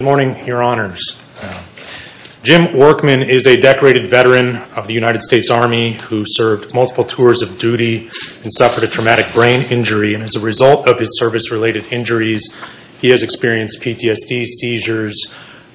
Good morning, your honors. Jim Workman is a decorated veteran of the United States Army who served multiple tours of duty and suffered a traumatic brain injury. As a result of his service-related injuries, he has experienced PTSD, seizures,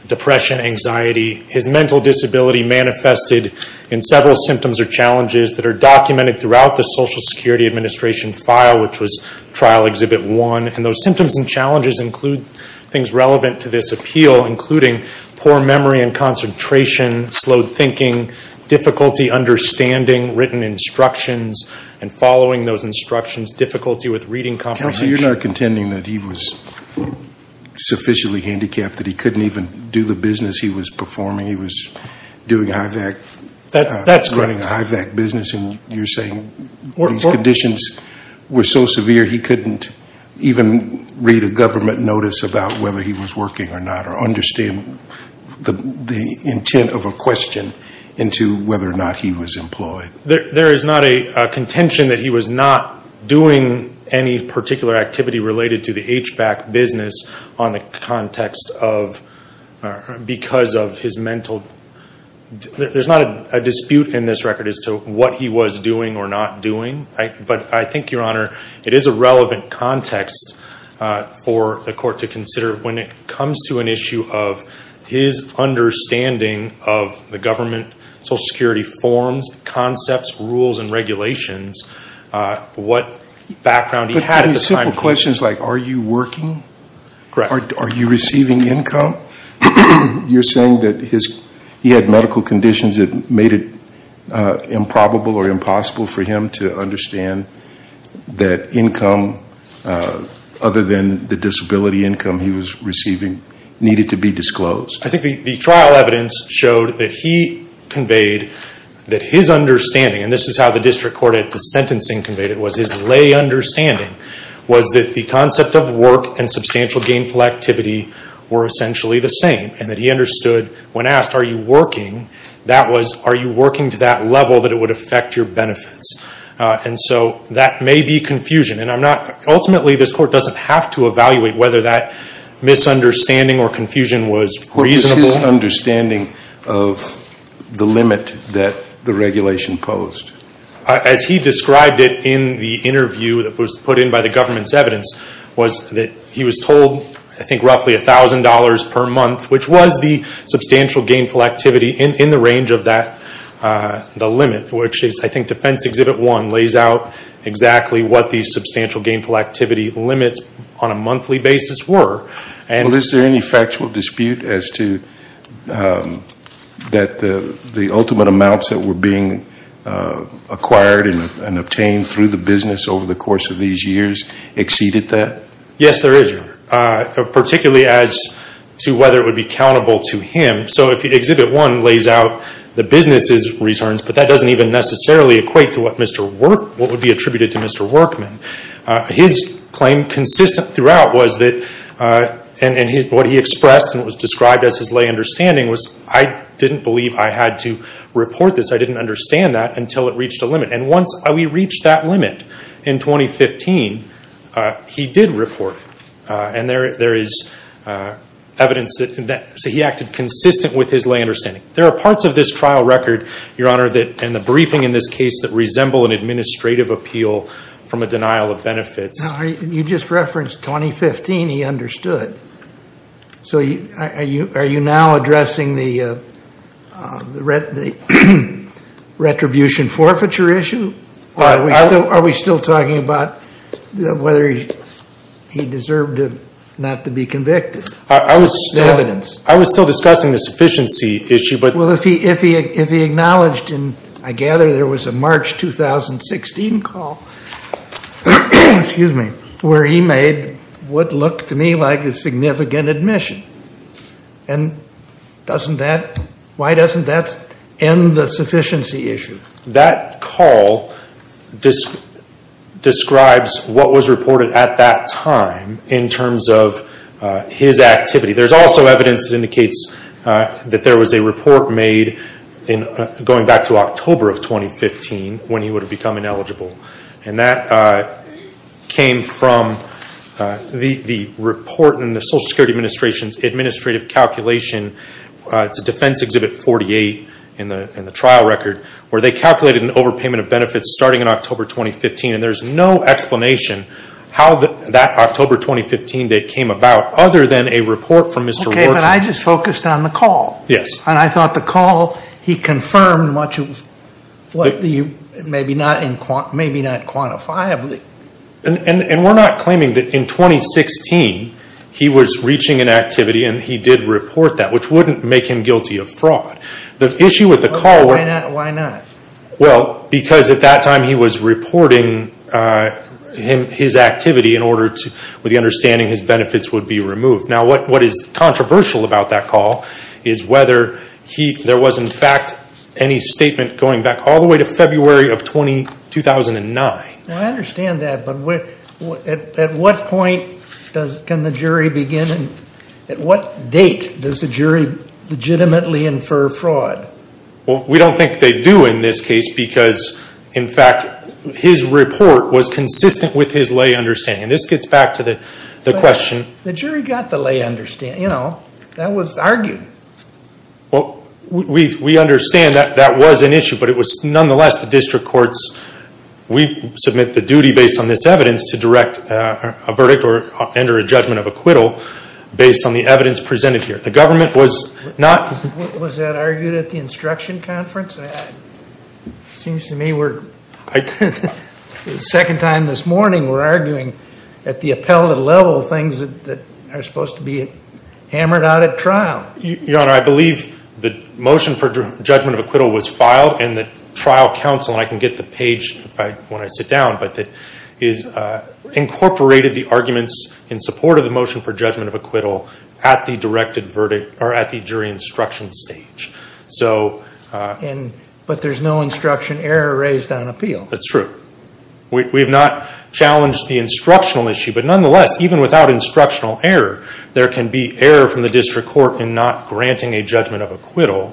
depression, anxiety. His mental disability manifested in several symptoms or challenges that are documented throughout the Social Security Administration file, which was Trial Exhibit 1. Those symptoms and challenges include things relevant to this appeal, including poor memory and concentration, slowed thinking, difficulty understanding written instructions and following those instructions, difficulty with reading comprehension. Counselor, you're not contending that he was sufficiently handicapped that he couldn't even do the business he was performing? He was doing a HVAC business and you're saying these conditions were so severe he couldn't even read a government notice about whether he was working or not, or understand the intent of a question into whether or not he was employed? There is not a contention that he was not doing any particular activity related to the HVAC business on the context of, because of his mental, there's not a dispute in this that he was doing or not doing. But I think, Your Honor, it is a relevant context for the court to consider when it comes to an issue of his understanding of the government Social Security forms, concepts, rules, and regulations, what background he had at the time. But simple questions like, are you working? Are you receiving income? You're saying that he had medical conditions that made it improbable or impossible for him to understand that income, other than the disability income he was receiving, needed to be disclosed? I think the trial evidence showed that he conveyed that his understanding, and this is how the district court at the sentencing conveyed it, was his lay understanding, was that the concept of work and substantial gainful activity were essentially the same, and that he understood when asked, are you working? That was, are you working to that level that it would affect your benefits? And so that may be confusion, and I'm not, ultimately this court doesn't have to evaluate whether that misunderstanding or confusion was reasonable. What was his understanding of the limit that the regulation posed? As he described it in the interview that was put in by the government's evidence, was that he was told, I think, roughly $1,000 per month, which was the substantial gainful activity in the range of that, the limit, which is, I think, Defense Exhibit 1 lays out exactly what the substantial gainful activity limits on a monthly basis were. Well, is there any factual dispute as to that the ultimate amounts that were being acquired and obtained through the business over the course of these years exceeded that? Yes, there is, Your Honor, particularly as to whether it would be accountable to him. So if Exhibit 1 lays out the business's returns, but that doesn't even necessarily equate to what Mr. Workman, what would be attributed to Mr. Workman. His claim consistent throughout was that, and what he expressed and what was described as his lay understanding was, I didn't believe I had to report this, I didn't understand that until it reached a limit. And once we reached that limit in 2015, he did report. And there is evidence that he acted consistent with his lay understanding. There are parts of this trial record, Your Honor, and the briefing in this case that resemble an administrative appeal from a denial of benefits. Now, you just referenced 2015, he understood. So are you now addressing the retribution forfeiture issue? Or are we still talking about whether he deserved not to be convicted? I was still discussing the sufficiency issue, but... Well, if he acknowledged, and I gather there was a March 2016 call, excuse me, where he made what looked to me like a significant admission. And doesn't that, why doesn't that end the sufficiency issue? That call describes what was reported at that time in terms of his activity. There's also evidence that indicates that there was a report made going back to October of 2015 when he would have become ineligible. And that came from the report in the Social Security Administration's overpayment of benefits starting in October 2015. And there's no explanation how that October 2015 date came about, other than a report from Mr. Warchuk. Okay, but I just focused on the call. Yes. And I thought the call, he confirmed much of what the, maybe not quantifiably. And we're not claiming that in 2016, he was reaching inactivity and he did report that, which wouldn't make him guilty of fraud. The issue with the call... Why not? Well, because at that time he was reporting his activity in order to, with the understanding his benefits would be removed. Now what is controversial about that call is whether he, there was in fact any statement going back all the way to February of 2009. Now I understand that, but at what point does, can the jury begin, at what date does the jury legitimately infer fraud? Well, we don't think they do in this case because, in fact, his report was consistent with his lay understanding. And this gets back to the question... The jury got the lay understanding, you know, that was argued. Well, we understand that that was an issue, but it was nonetheless the district courts, we submit the duty based on this evidence to direct a verdict or enter a judgment of acquittal based on the evidence presented here. The government was not... Was that argued at the instruction conference? It seems to me we're, the second time this morning we're arguing at the appellate level things that are supposed to be hammered out at trial. Your Honor, I believe the motion for judgment of acquittal was filed and the trial counsel, and I can get the page when I sit down, but that incorporated the arguments in support of the motion for judgment of acquittal at the jury instruction stage. But there's no instruction error raised on appeal. That's true. We have not challenged the instructional issue, but nonetheless, even without instructional error, there can be error from the district court in not granting a judgment of acquittal.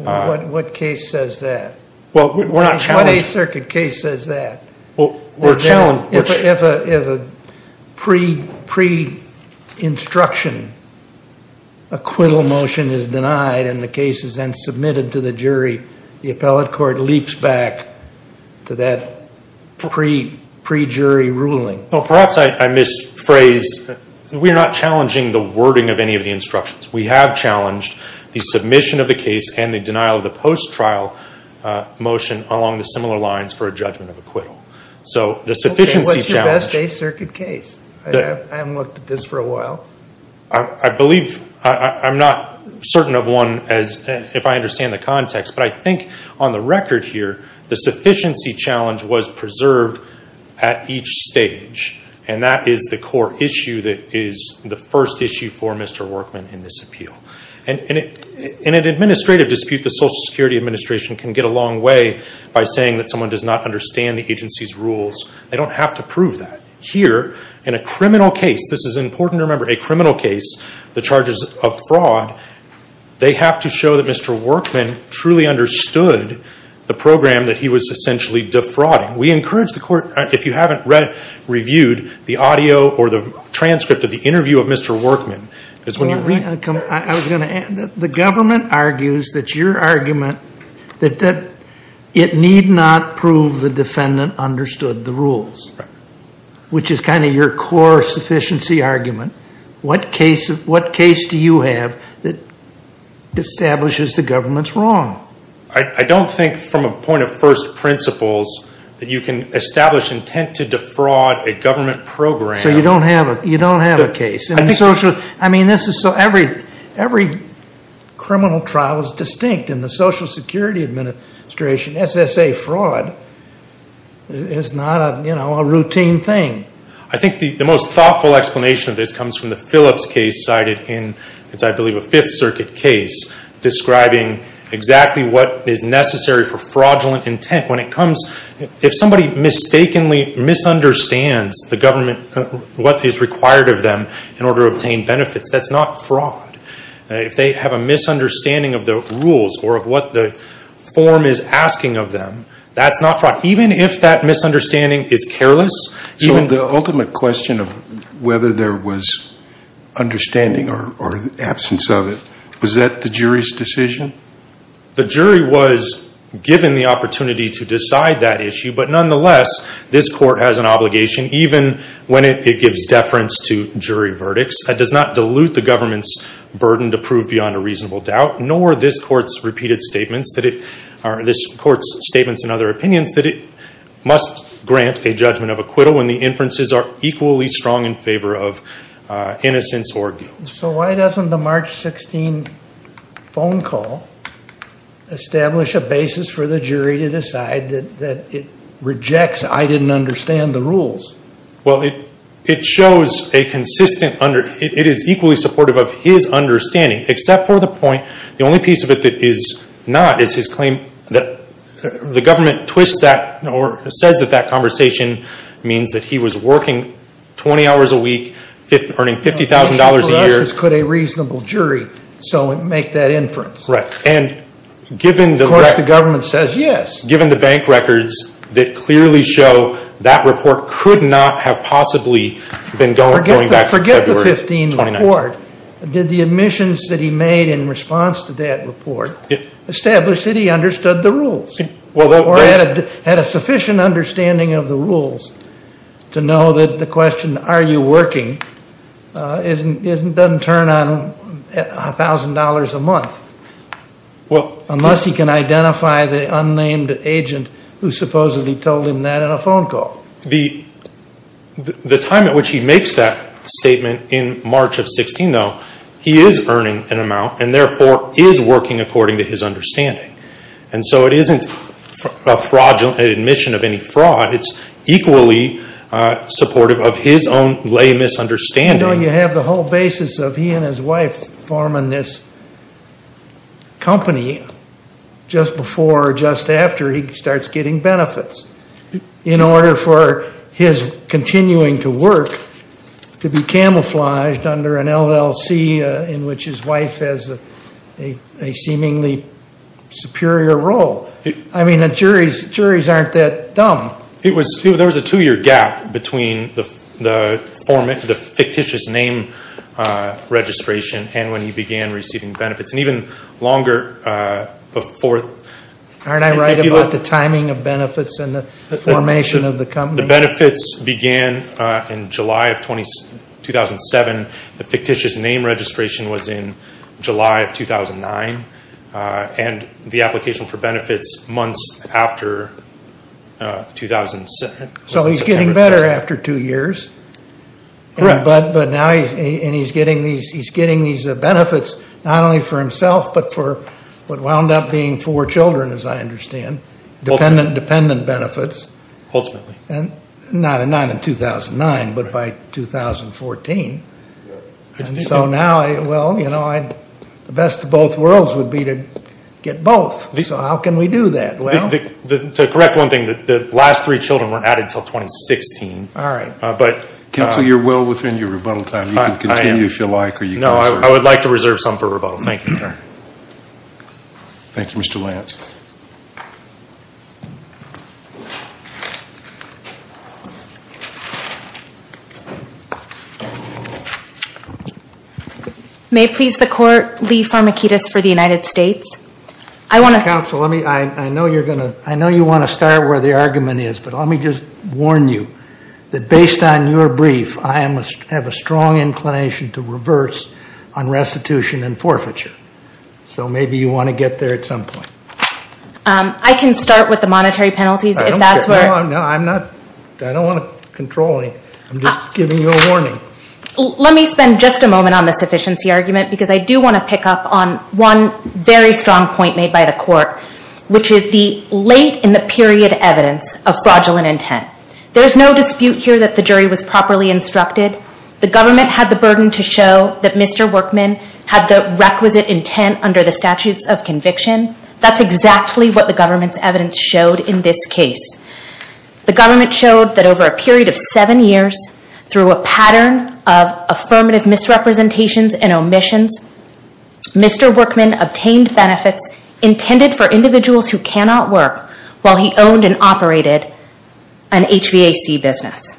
What case says that? Well, we're not challenging... What Eighth Circuit case says that? If a pre-instruction acquittal motion is denied and the case is then submitted to the jury, the appellate court leaps back to that pre-jury ruling. Perhaps I misphrased. We're not challenging the wording of any of the instructions. We have challenged the submission of the case and the denial of the post-trial motion along the similar lines for a judgment of acquittal. So the sufficiency challenge... Okay. What's your best Eighth Circuit case? I haven't looked at this for a while. I believe... I'm not certain of one if I understand the context, but I think on the record here, the sufficiency challenge was preserved at each stage, and that is the core issue that is the first issue for Mr. Workman in this appeal. In an administrative dispute, the Social Security Administration can get a long way by saying that someone does not understand the agency's rules. They don't have to prove that. Here, in a criminal case, this is important to remember, a criminal case, the charges of fraud, they have to show that Mr. Workman truly understood the program that he was essentially defrauding. We encourage the court, if you haven't reviewed the audio or the transcript of the interview of Mr. Workman... I was going to add, the government argues that your argument that it need not prove the defendant understood the rules, which is kind of your core sufficiency argument. What case do you have that establishes the government's wrong? I don't think from a point of first principles that you can establish intent to defraud a government program... So you don't have a case? Every criminal trial is distinct in the Social Security Administration. SSA fraud is not a routine thing. I think the most thoughtful explanation of this comes from the Phillips case cited in the Fifth Circuit case, describing exactly what is necessary for fraudulent intent. When it comes, if somebody mistakenly misunderstands the government, what is required of them in order to obtain benefits, that's not fraud. If they have a misunderstanding of the rules or of what the form is asking of them, that's not fraud. Even if that misunderstanding is careless... So the ultimate question of whether there was understanding or absence of it, was that the jury's decision? The jury was given the opportunity to decide that issue, but nonetheless, this court has an obligation, even when it gives deference to jury verdicts, that does not dilute the government's burden to prove beyond a reasonable doubt, nor this court's repeated statements that it, or this court's statements and other opinions, that it must grant a judgment of acquittal when the inferences are equally strong in favor of innocence or guilt. So why doesn't the March 16 phone call establish a basis for the jury to decide that it rejects I didn't understand the rules? Well, it shows a consistent, it is equally supportive of his understanding, except for the point, the only piece of it that is not, is his claim that the government twists that, or says that that conversation means that he was working 20 hours a week, earning $50,000 a year. For us, it's could a reasonable jury make that inference? Right. And given the... Of course, the government says yes. Given the bank records that clearly show that report could not have possibly been going back to February of 2019. Forget the 15 report. Did the admissions that he made in response to that report establish that he understood the rules? Or had a sufficient understanding of the rules to know that the question, are you working, doesn't turn on $1,000 a month, unless he can identify the unnamed agent who supposedly told him that in a phone call. The time at which he makes that statement in March of 16, though, he is earning an amount and therefore is working according to his understanding. And so it isn't a fraudulent admission of any fraud. It's equally supportive of his own lay misunderstanding. You have the whole basis of he and his wife forming this company just before or just after he starts getting benefits in order for his continuing to work to be camouflaged under an LLC in which his wife has a seemingly superior role. I mean, the juries aren't that dumb. There was a two-year gap between the fictitious name registration and when he began receiving benefits. And even longer before. Aren't I right about the timing of benefits and the formation of the company? The benefits began in July of 2007. The fictitious name registration was in July of 2009. And the application for benefits months after 2007. So he's getting better after two years. But now he's getting these benefits not only for himself, but for what wound up being four children, as I understand. Dependent benefits. And not in 2009, but by 2014. And so now, well, you know, the best of both worlds would be to get both. So how can we do that? Well. To correct one thing, the last three children weren't added until 2016. All right. Counsel, you're well within your rebuttal time. You can continue if you like. No, I would like to reserve some for rebuttal. Thank you, sir. Thank you, Mr. Lance. May it please the court, Lee Farmakidis for the United States. Counsel, I know you want to start where the argument is, but let me just warn you. That based on your brief, I have a strong inclination to reverse on restitution and forfeiture. So maybe you want to get there at some point. I can start with the monetary penalties if that's where. No, I'm not. I don't want to control any. I'm just giving you a warning. Let me spend just a moment on the sufficiency argument because I do want to pick up on one very strong point made by the court, which is the late in the period evidence of fraudulent intent. There's no dispute here that the jury was properly instructed. The government had the burden to show that Mr. Workman had the requisite intent under the statutes of conviction. That's exactly what the government's evidence showed in this case. The government showed that over a period of seven years, through a pattern of affirmative misrepresentations and omissions, Mr. Workman obtained benefits intended for individuals who cannot work while he owned and operated an HVAC business.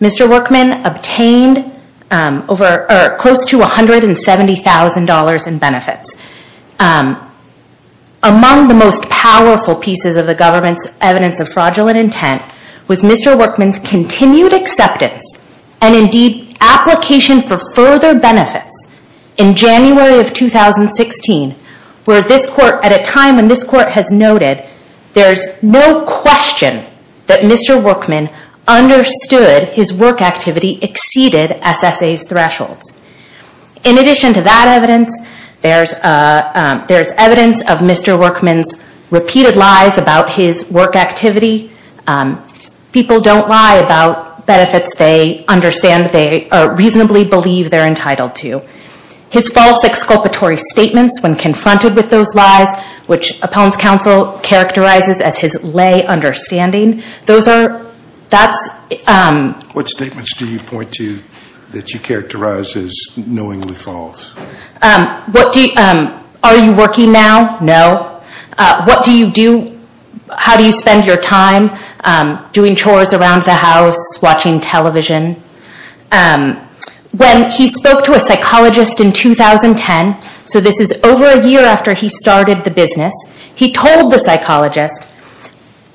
Mr. Workman obtained close to $170,000 in benefits. Among the most powerful pieces of the government's evidence of fraudulent intent was Mr. Workman's continued acceptance and indeed application for further benefits in January of 2016 where this court, at a time when this court has noted, there's no question that Mr. Workman understood his work activity exceeded SSA's thresholds. In addition to that evidence, there's evidence of Mr. Workman's repeated lies about his work activity. People don't lie about benefits they understand, they reasonably believe they're entitled to. His false exculpatory statements when confronted with those lies, which Appellant's Counsel characterizes as his lay understanding, those are, that's... What statements do you point to that you characterize as knowingly false? Are you working now? No. What do you do, how do you spend your time? Doing chores around the house, watching television. When he spoke to a psychologist in 2010, so this is over a year after he started the business, he told the psychologist,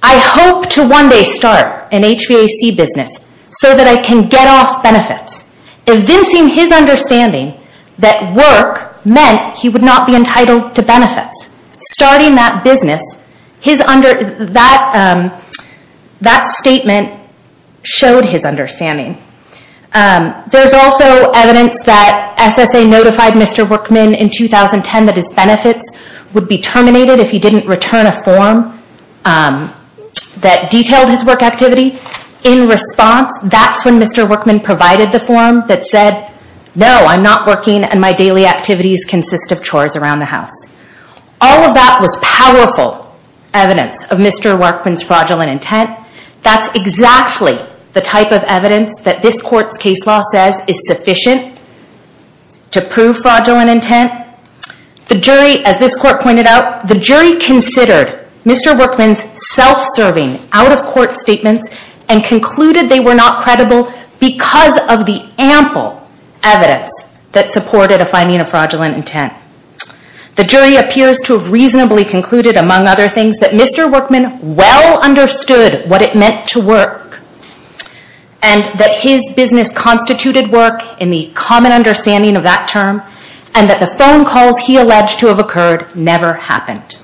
I hope to one day start an HVAC business so that I can get off benefits. Evincing his understanding that work meant he would not be entitled to benefits. Starting that business, that statement showed his understanding. There's also evidence that SSA notified Mr. Workman in 2010 that his benefits would be paid if he didn't return a form that detailed his work activity. In response, that's when Mr. Workman provided the form that said, no, I'm not working and my daily activities consist of chores around the house. All of that was powerful evidence of Mr. Workman's fraudulent intent. That's exactly the type of evidence that this Court's case law says is sufficient to prove fraudulent intent. The jury, as this Court pointed out, the jury considered Mr. Workman's self-serving, out-of-court statements and concluded they were not credible because of the ample evidence that supported a finding of fraudulent intent. The jury appears to have reasonably concluded, among other things, that Mr. Workman well understood what it meant to work and that his business constituted work in the common understanding of that term and that the phone calls he alleged to have occurred never happened.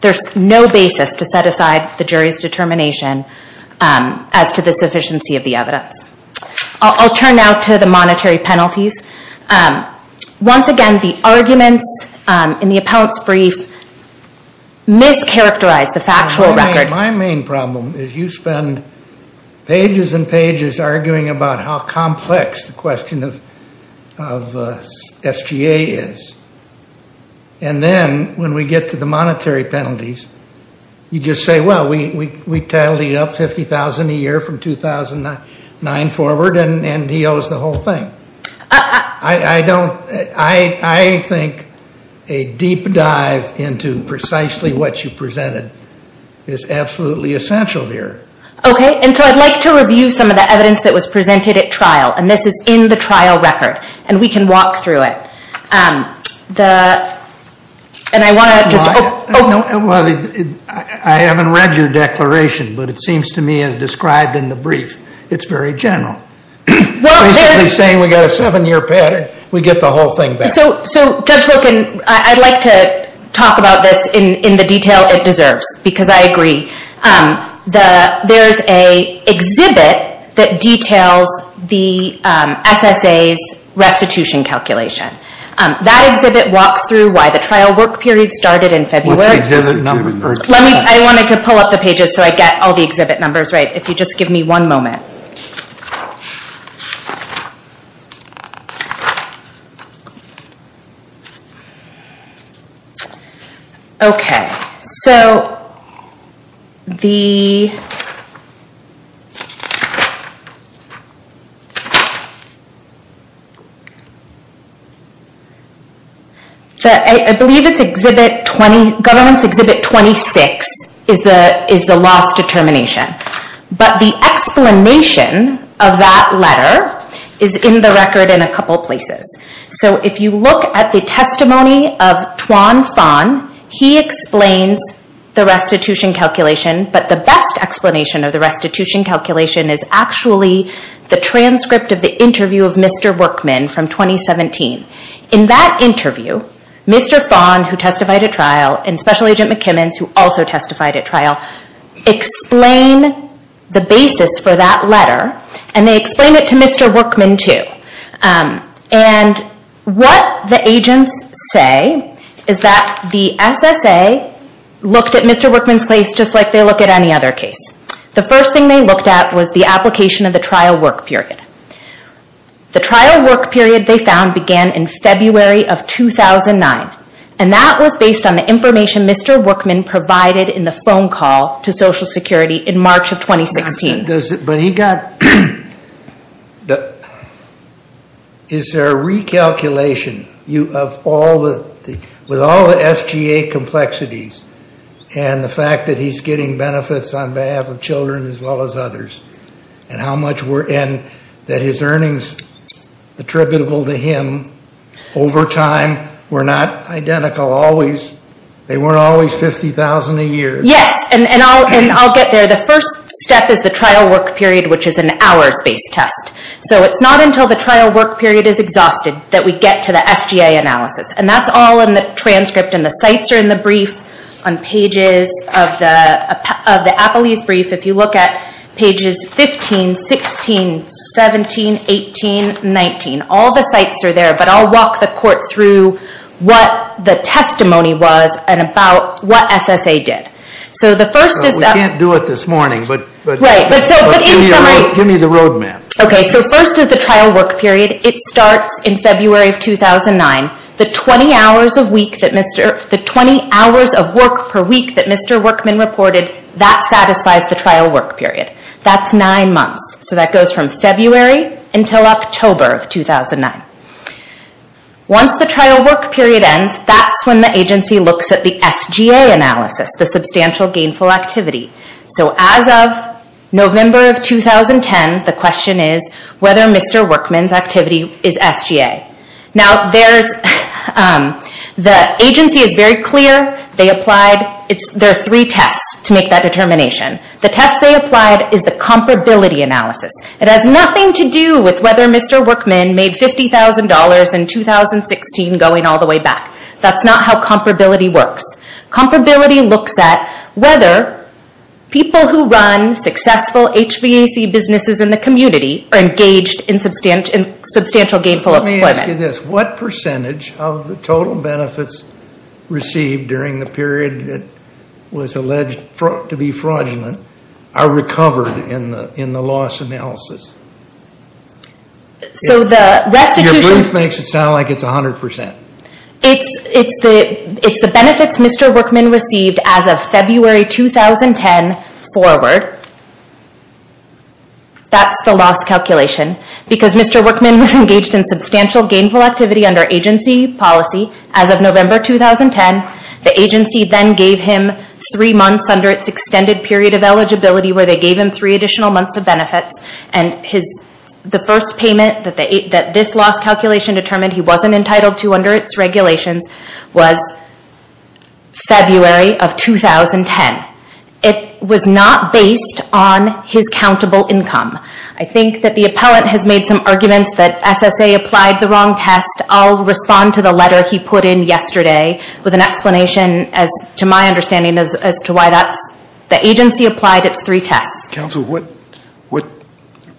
There's no basis to set aside the jury's determination as to the sufficiency of the evidence. I'll turn now to the monetary penalties. Once again, the arguments in the appellant's brief mischaracterized the factual record. My main problem is you spend pages and pages arguing about how complex the question of SGA is, and then when we get to the monetary penalties, you just say, well, we titled you up $50,000 a year from 2009 forward and he owes the whole thing. I think a deep dive into precisely what you presented is absolutely essential here. Okay, and so I'd like to review some of the evidence that was presented at trial, and this is in the trial record, and we can walk through it. I haven't read your declaration, but it seems to me as described in the brief, it's very general. Basically saying we've got a seven-year patent, we get the whole thing back. So Judge Loken, I'd like to talk about this in the detail it deserves because I agree. There's an exhibit that details the SSA's restitution calculation. That exhibit walks through why the trial work period started in February. What's the exhibit number? I wanted to pull up the pages so I get all the exhibit numbers right. If you just give me one moment. Okay, so I believe it's government's exhibit 26 is the loss determination. But the explanation of that letter is in the record in a couple places. So if you look at the testimony of Tuan Phan, he explains the restitution calculation, but the best explanation of the restitution calculation is actually the transcript of the interview of Mr. Workman from 2017. In that interview, Mr. Phan, who testified at trial, and Special Agent McKimmons, who also testified at trial, explain the basis for that letter, and they explain it to Mr. Workman too. And what the agents say is that the SSA looked at Mr. Workman's case just like they look at any other case. The first thing they looked at was the application of the trial work period. The trial work period they found began in February of 2009, and that was based on the information Mr. Workman provided in the phone call to Social Security in March of 2016. But is there a recalculation with all the SGA complexities, and the fact that he's getting benefits on behalf of children as well as others, and that his earnings attributable to him over time were not identical? They weren't always $50,000 a year. Yes, and I'll get there. The first step is the trial work period, which is an hours-based test. So it's not until the trial work period is exhausted that we get to the SGA analysis. And that's all in the transcript, and the sites are in the brief on pages of the APALY's brief. If you look at pages 15, 16, 17, 18, 19, all the sites are there. But I'll walk the court through what the testimony was and about what SSA did. We can't do it this morning, but give me the road map. Okay, so first is the trial work period. It starts in February of 2009. The 20 hours of work per week that Mr. Workman reported, that satisfies the trial work period. That's nine months, so that goes from February until October of 2009. Once the trial work period ends, that's when the agency looks at the SGA analysis, the substantial gainful activity. So as of November of 2010, the question is whether Mr. Workman's activity is SGA. Now, the agency is very clear. There are three tests to make that determination. The test they applied is the comparability analysis. It has nothing to do with whether Mr. Workman made $50,000 in 2016 going all the way back. That's not how comparability works. Comparability looks at whether people who run successful HVAC businesses in the community are engaged in substantial gainful employment. Let me ask you this. What percentage of the total benefits received during the period that was alleged to be fraudulent are recovered in the loss analysis? Your proof makes it sound like it's 100%. It's the benefits Mr. Workman received as of February 2010 forward. That's the loss calculation. Because Mr. Workman was engaged in substantial gainful activity under agency policy as of November 2010, the agency then gave him three months under its extended period of eligibility where they gave him three additional months of benefits. The first payment that this loss calculation determined he wasn't entitled to under its regulations was February of 2010. It was not based on his countable income. I think that the appellant has made some arguments that SSA applied the wrong test. I'll respond to the letter he put in yesterday with an explanation to my understanding as to why the agency applied its three tests. Counsel, what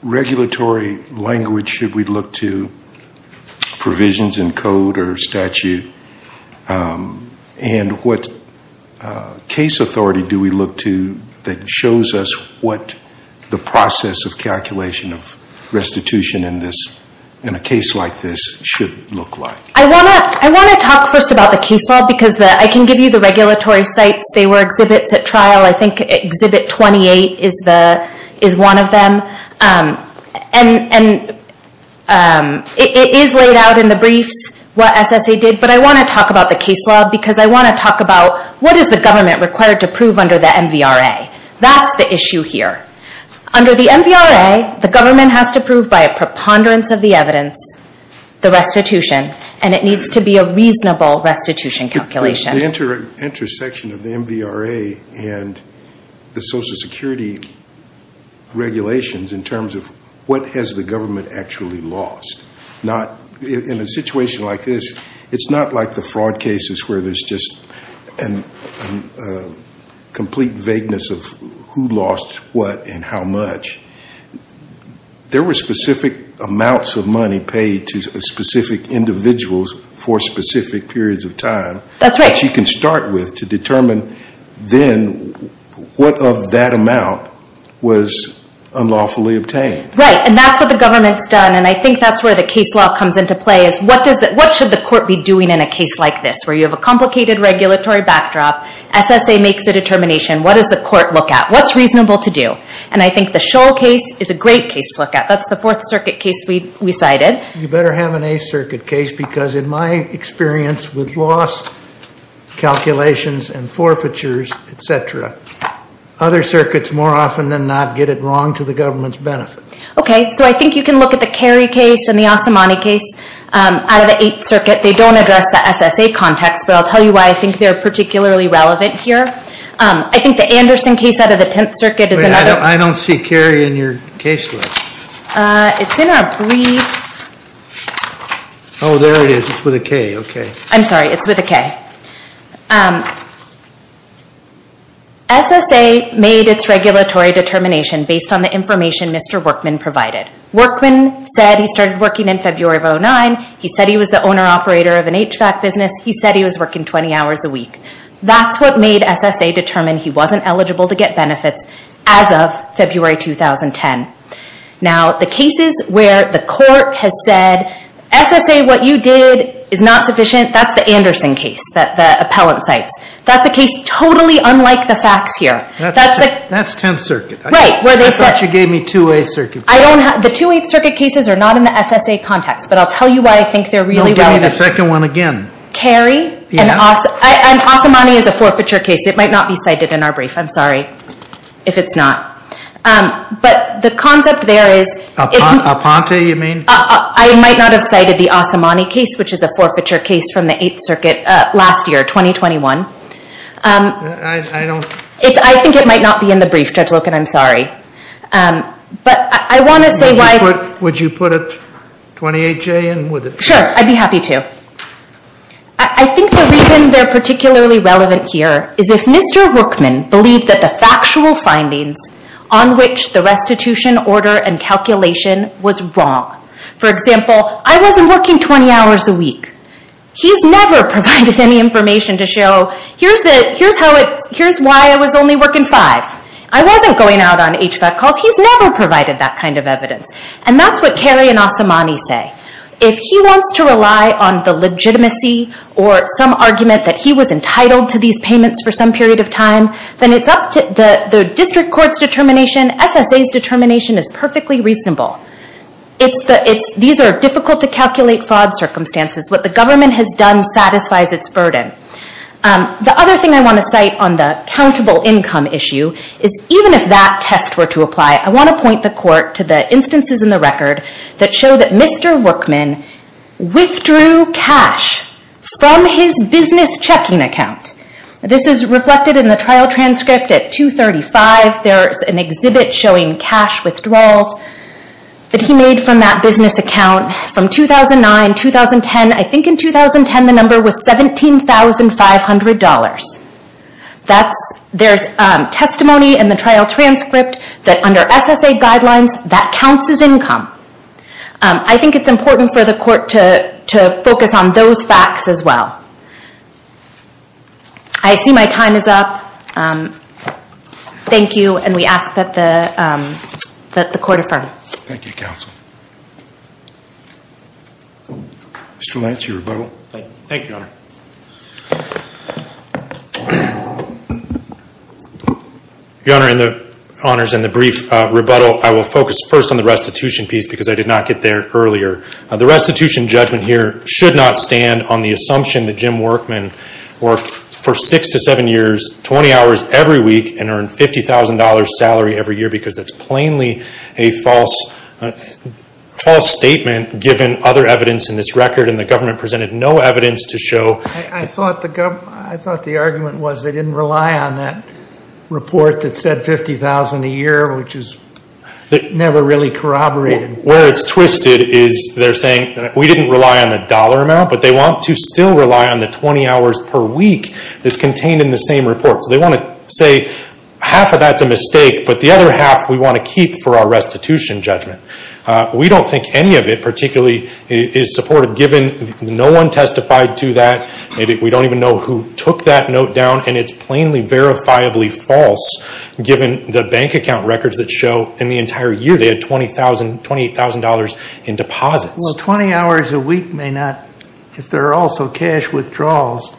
regulatory language should we look to, provisions in code or statute, and what case authority do we look to that shows us what the process of calculation of restitution in a case like this should look like? I want to talk first about the case law because I can give you the regulatory sites. They were exhibits at trial. I think Exhibit 28 is one of them. It is laid out in the briefs what SSA did, but I want to talk about the case law because I want to talk about what is the government required to prove under the MVRA. That's the issue here. Under the MVRA, the government has to prove by a preponderance of the evidence the restitution, and it needs to be a reasonable restitution calculation. The intersection of the MVRA and the Social Security regulations in terms of what has the government actually lost. In a situation like this, it's not like the fraud cases where there's just a complete vagueness of who lost what and how much. There were specific amounts of money paid to specific individuals for specific periods of time. That's right. You can start with to determine then what of that amount was unlawfully obtained. Right, and that's what the government's done, and I think that's where the case law comes into play. What should the court be doing in a case like this where you have a complicated regulatory backdrop? SSA makes a determination. What does the court look at? What's reasonable to do? I think the Scholl case is a great case to look at. That's the Fourth Circuit case we cited. You better have an Eighth Circuit case because in my experience with loss calculations and forfeitures, etc., other circuits more often than not get it wrong to the government's benefit. Okay, so I think you can look at the Carey case and the Asamani case out of the Eighth Circuit. They don't address the SSA context, but I'll tell you why I think they're particularly relevant here. I think the Anderson case out of the Tenth Circuit is another. I don't see Carey in your case list. It's in our brief. Oh, there it is. It's with a K. I'm sorry. It's with a K. SSA made its regulatory determination based on the information Mr. Workman provided. Workman said he started working in February of 2009. He said he was the owner-operator of an HVAC business. He said he was working 20 hours a week. That's what made SSA determine he wasn't eligible to get benefits as of February 2010. Now, the cases where the court has said, SSA, what you did is not sufficient, that's the Anderson case that the appellant cites. That's a case totally unlike the facts here. That's Tenth Circuit. Right. I thought you gave me Two-Way Circuit. The Two-Way Circuit cases are not in the SSA context, but I'll tell you why I think they're really relevant. Don't give me the second one again. Kerry and Asamani is a forfeiture case. It might not be cited in our brief. I'm sorry if it's not. But the concept there is- Aponte, you mean? I might not have cited the Asamani case, which is a forfeiture case from the Eighth Circuit last year, 2021. I don't- I think it might not be in the brief, Judge Loken. I'm sorry. But I want to say why- Would you put a 28J in with it? Sure. I'd be happy to. I think the reason they're particularly relevant here is if Mr. Workman believed that the factual findings on which the restitution order and calculation was wrong. For example, I wasn't working 20 hours a week. He's never provided any information to show, here's why I was only working five. I wasn't going out on HVAC calls. He's never provided that kind of evidence. And that's what Kerry and Asamani say. If he wants to rely on the legitimacy or some argument that he was entitled to these payments for some period of time, then it's up to the district court's determination. SSA's determination is perfectly reasonable. These are difficult-to-calculate fraud circumstances. What the government has done satisfies its burden. The other thing I want to cite on the countable income issue is even if that test were to apply, I want to point the court to the instances in the record that show that Mr. Workman withdrew cash from his business checking account. This is reflected in the trial transcript at 235. There's an exhibit showing cash withdrawals that he made from that business account from 2009, 2010. I think in 2010 the number was $17,500. There's testimony in the trial transcript that under SSA guidelines, that counts as income. I think it's important for the court to focus on those facts as well. I see my time is up. Thank you, and we ask that the court affirm. Thank you, counsel. Mr. Lance, your rebuttal. Thank you, Your Honor. Your Honor, in the brief rebuttal, I will focus first on the restitution piece because I did not get there earlier. The restitution judgment here should not stand on the assumption that Jim Workman worked for six to seven years, 20 hours every week, and earned $50,000 salary every year because that's plainly a false statement given other evidence in this record, and the government presented no evidence to show. I thought the argument was they didn't rely on that report that said $50,000 a year, which is never really corroborated. Where it's twisted is they're saying we didn't rely on the dollar amount, but they want to still rely on the 20 hours per week that's contained in the same report. So they want to say half of that's a mistake, but the other half we want to keep for our restitution judgment. We don't think any of it particularly is supported given no one testified to that. We don't even know who took that note down, and it's plainly verifiably false given the bank account records that show in the entire year they had $20,000, $28,000 in deposits. Well, 20 hours a week may not, if there are also cash withdrawals.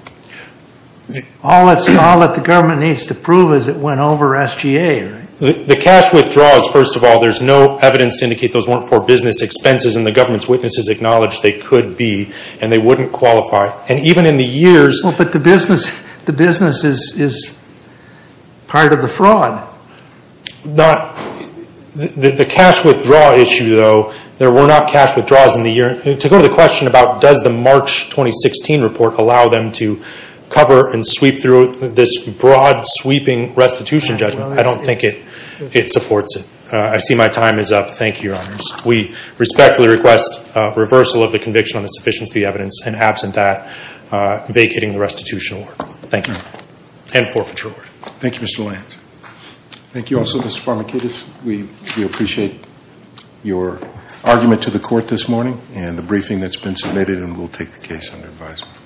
All that the government needs to prove is it went over SGA, right? The cash withdrawals, first of all, there's no evidence to indicate those weren't for business expenses, and the government's witnesses acknowledged they could be, and they wouldn't qualify. And even in the years – Well, but the business is part of the fraud. The cash withdrawal issue, though, there were not cash withdrawals in the year. To go to the question about does the March 2016 report allow them to cover and sweep through this broad, sweeping restitution judgment, I don't think it supports it. I see my time is up. Thank you, Your Honors. We respectfully request reversal of the conviction on the sufficiency of the evidence, and absent that, vacating the restitution award. Thank you. And forfeiture award. Thank you, Mr. Lance. Thank you also, Mr. Farmakidis. We appreciate your argument to the court this morning and the briefing that's been submitted, and we'll take the case under advisement.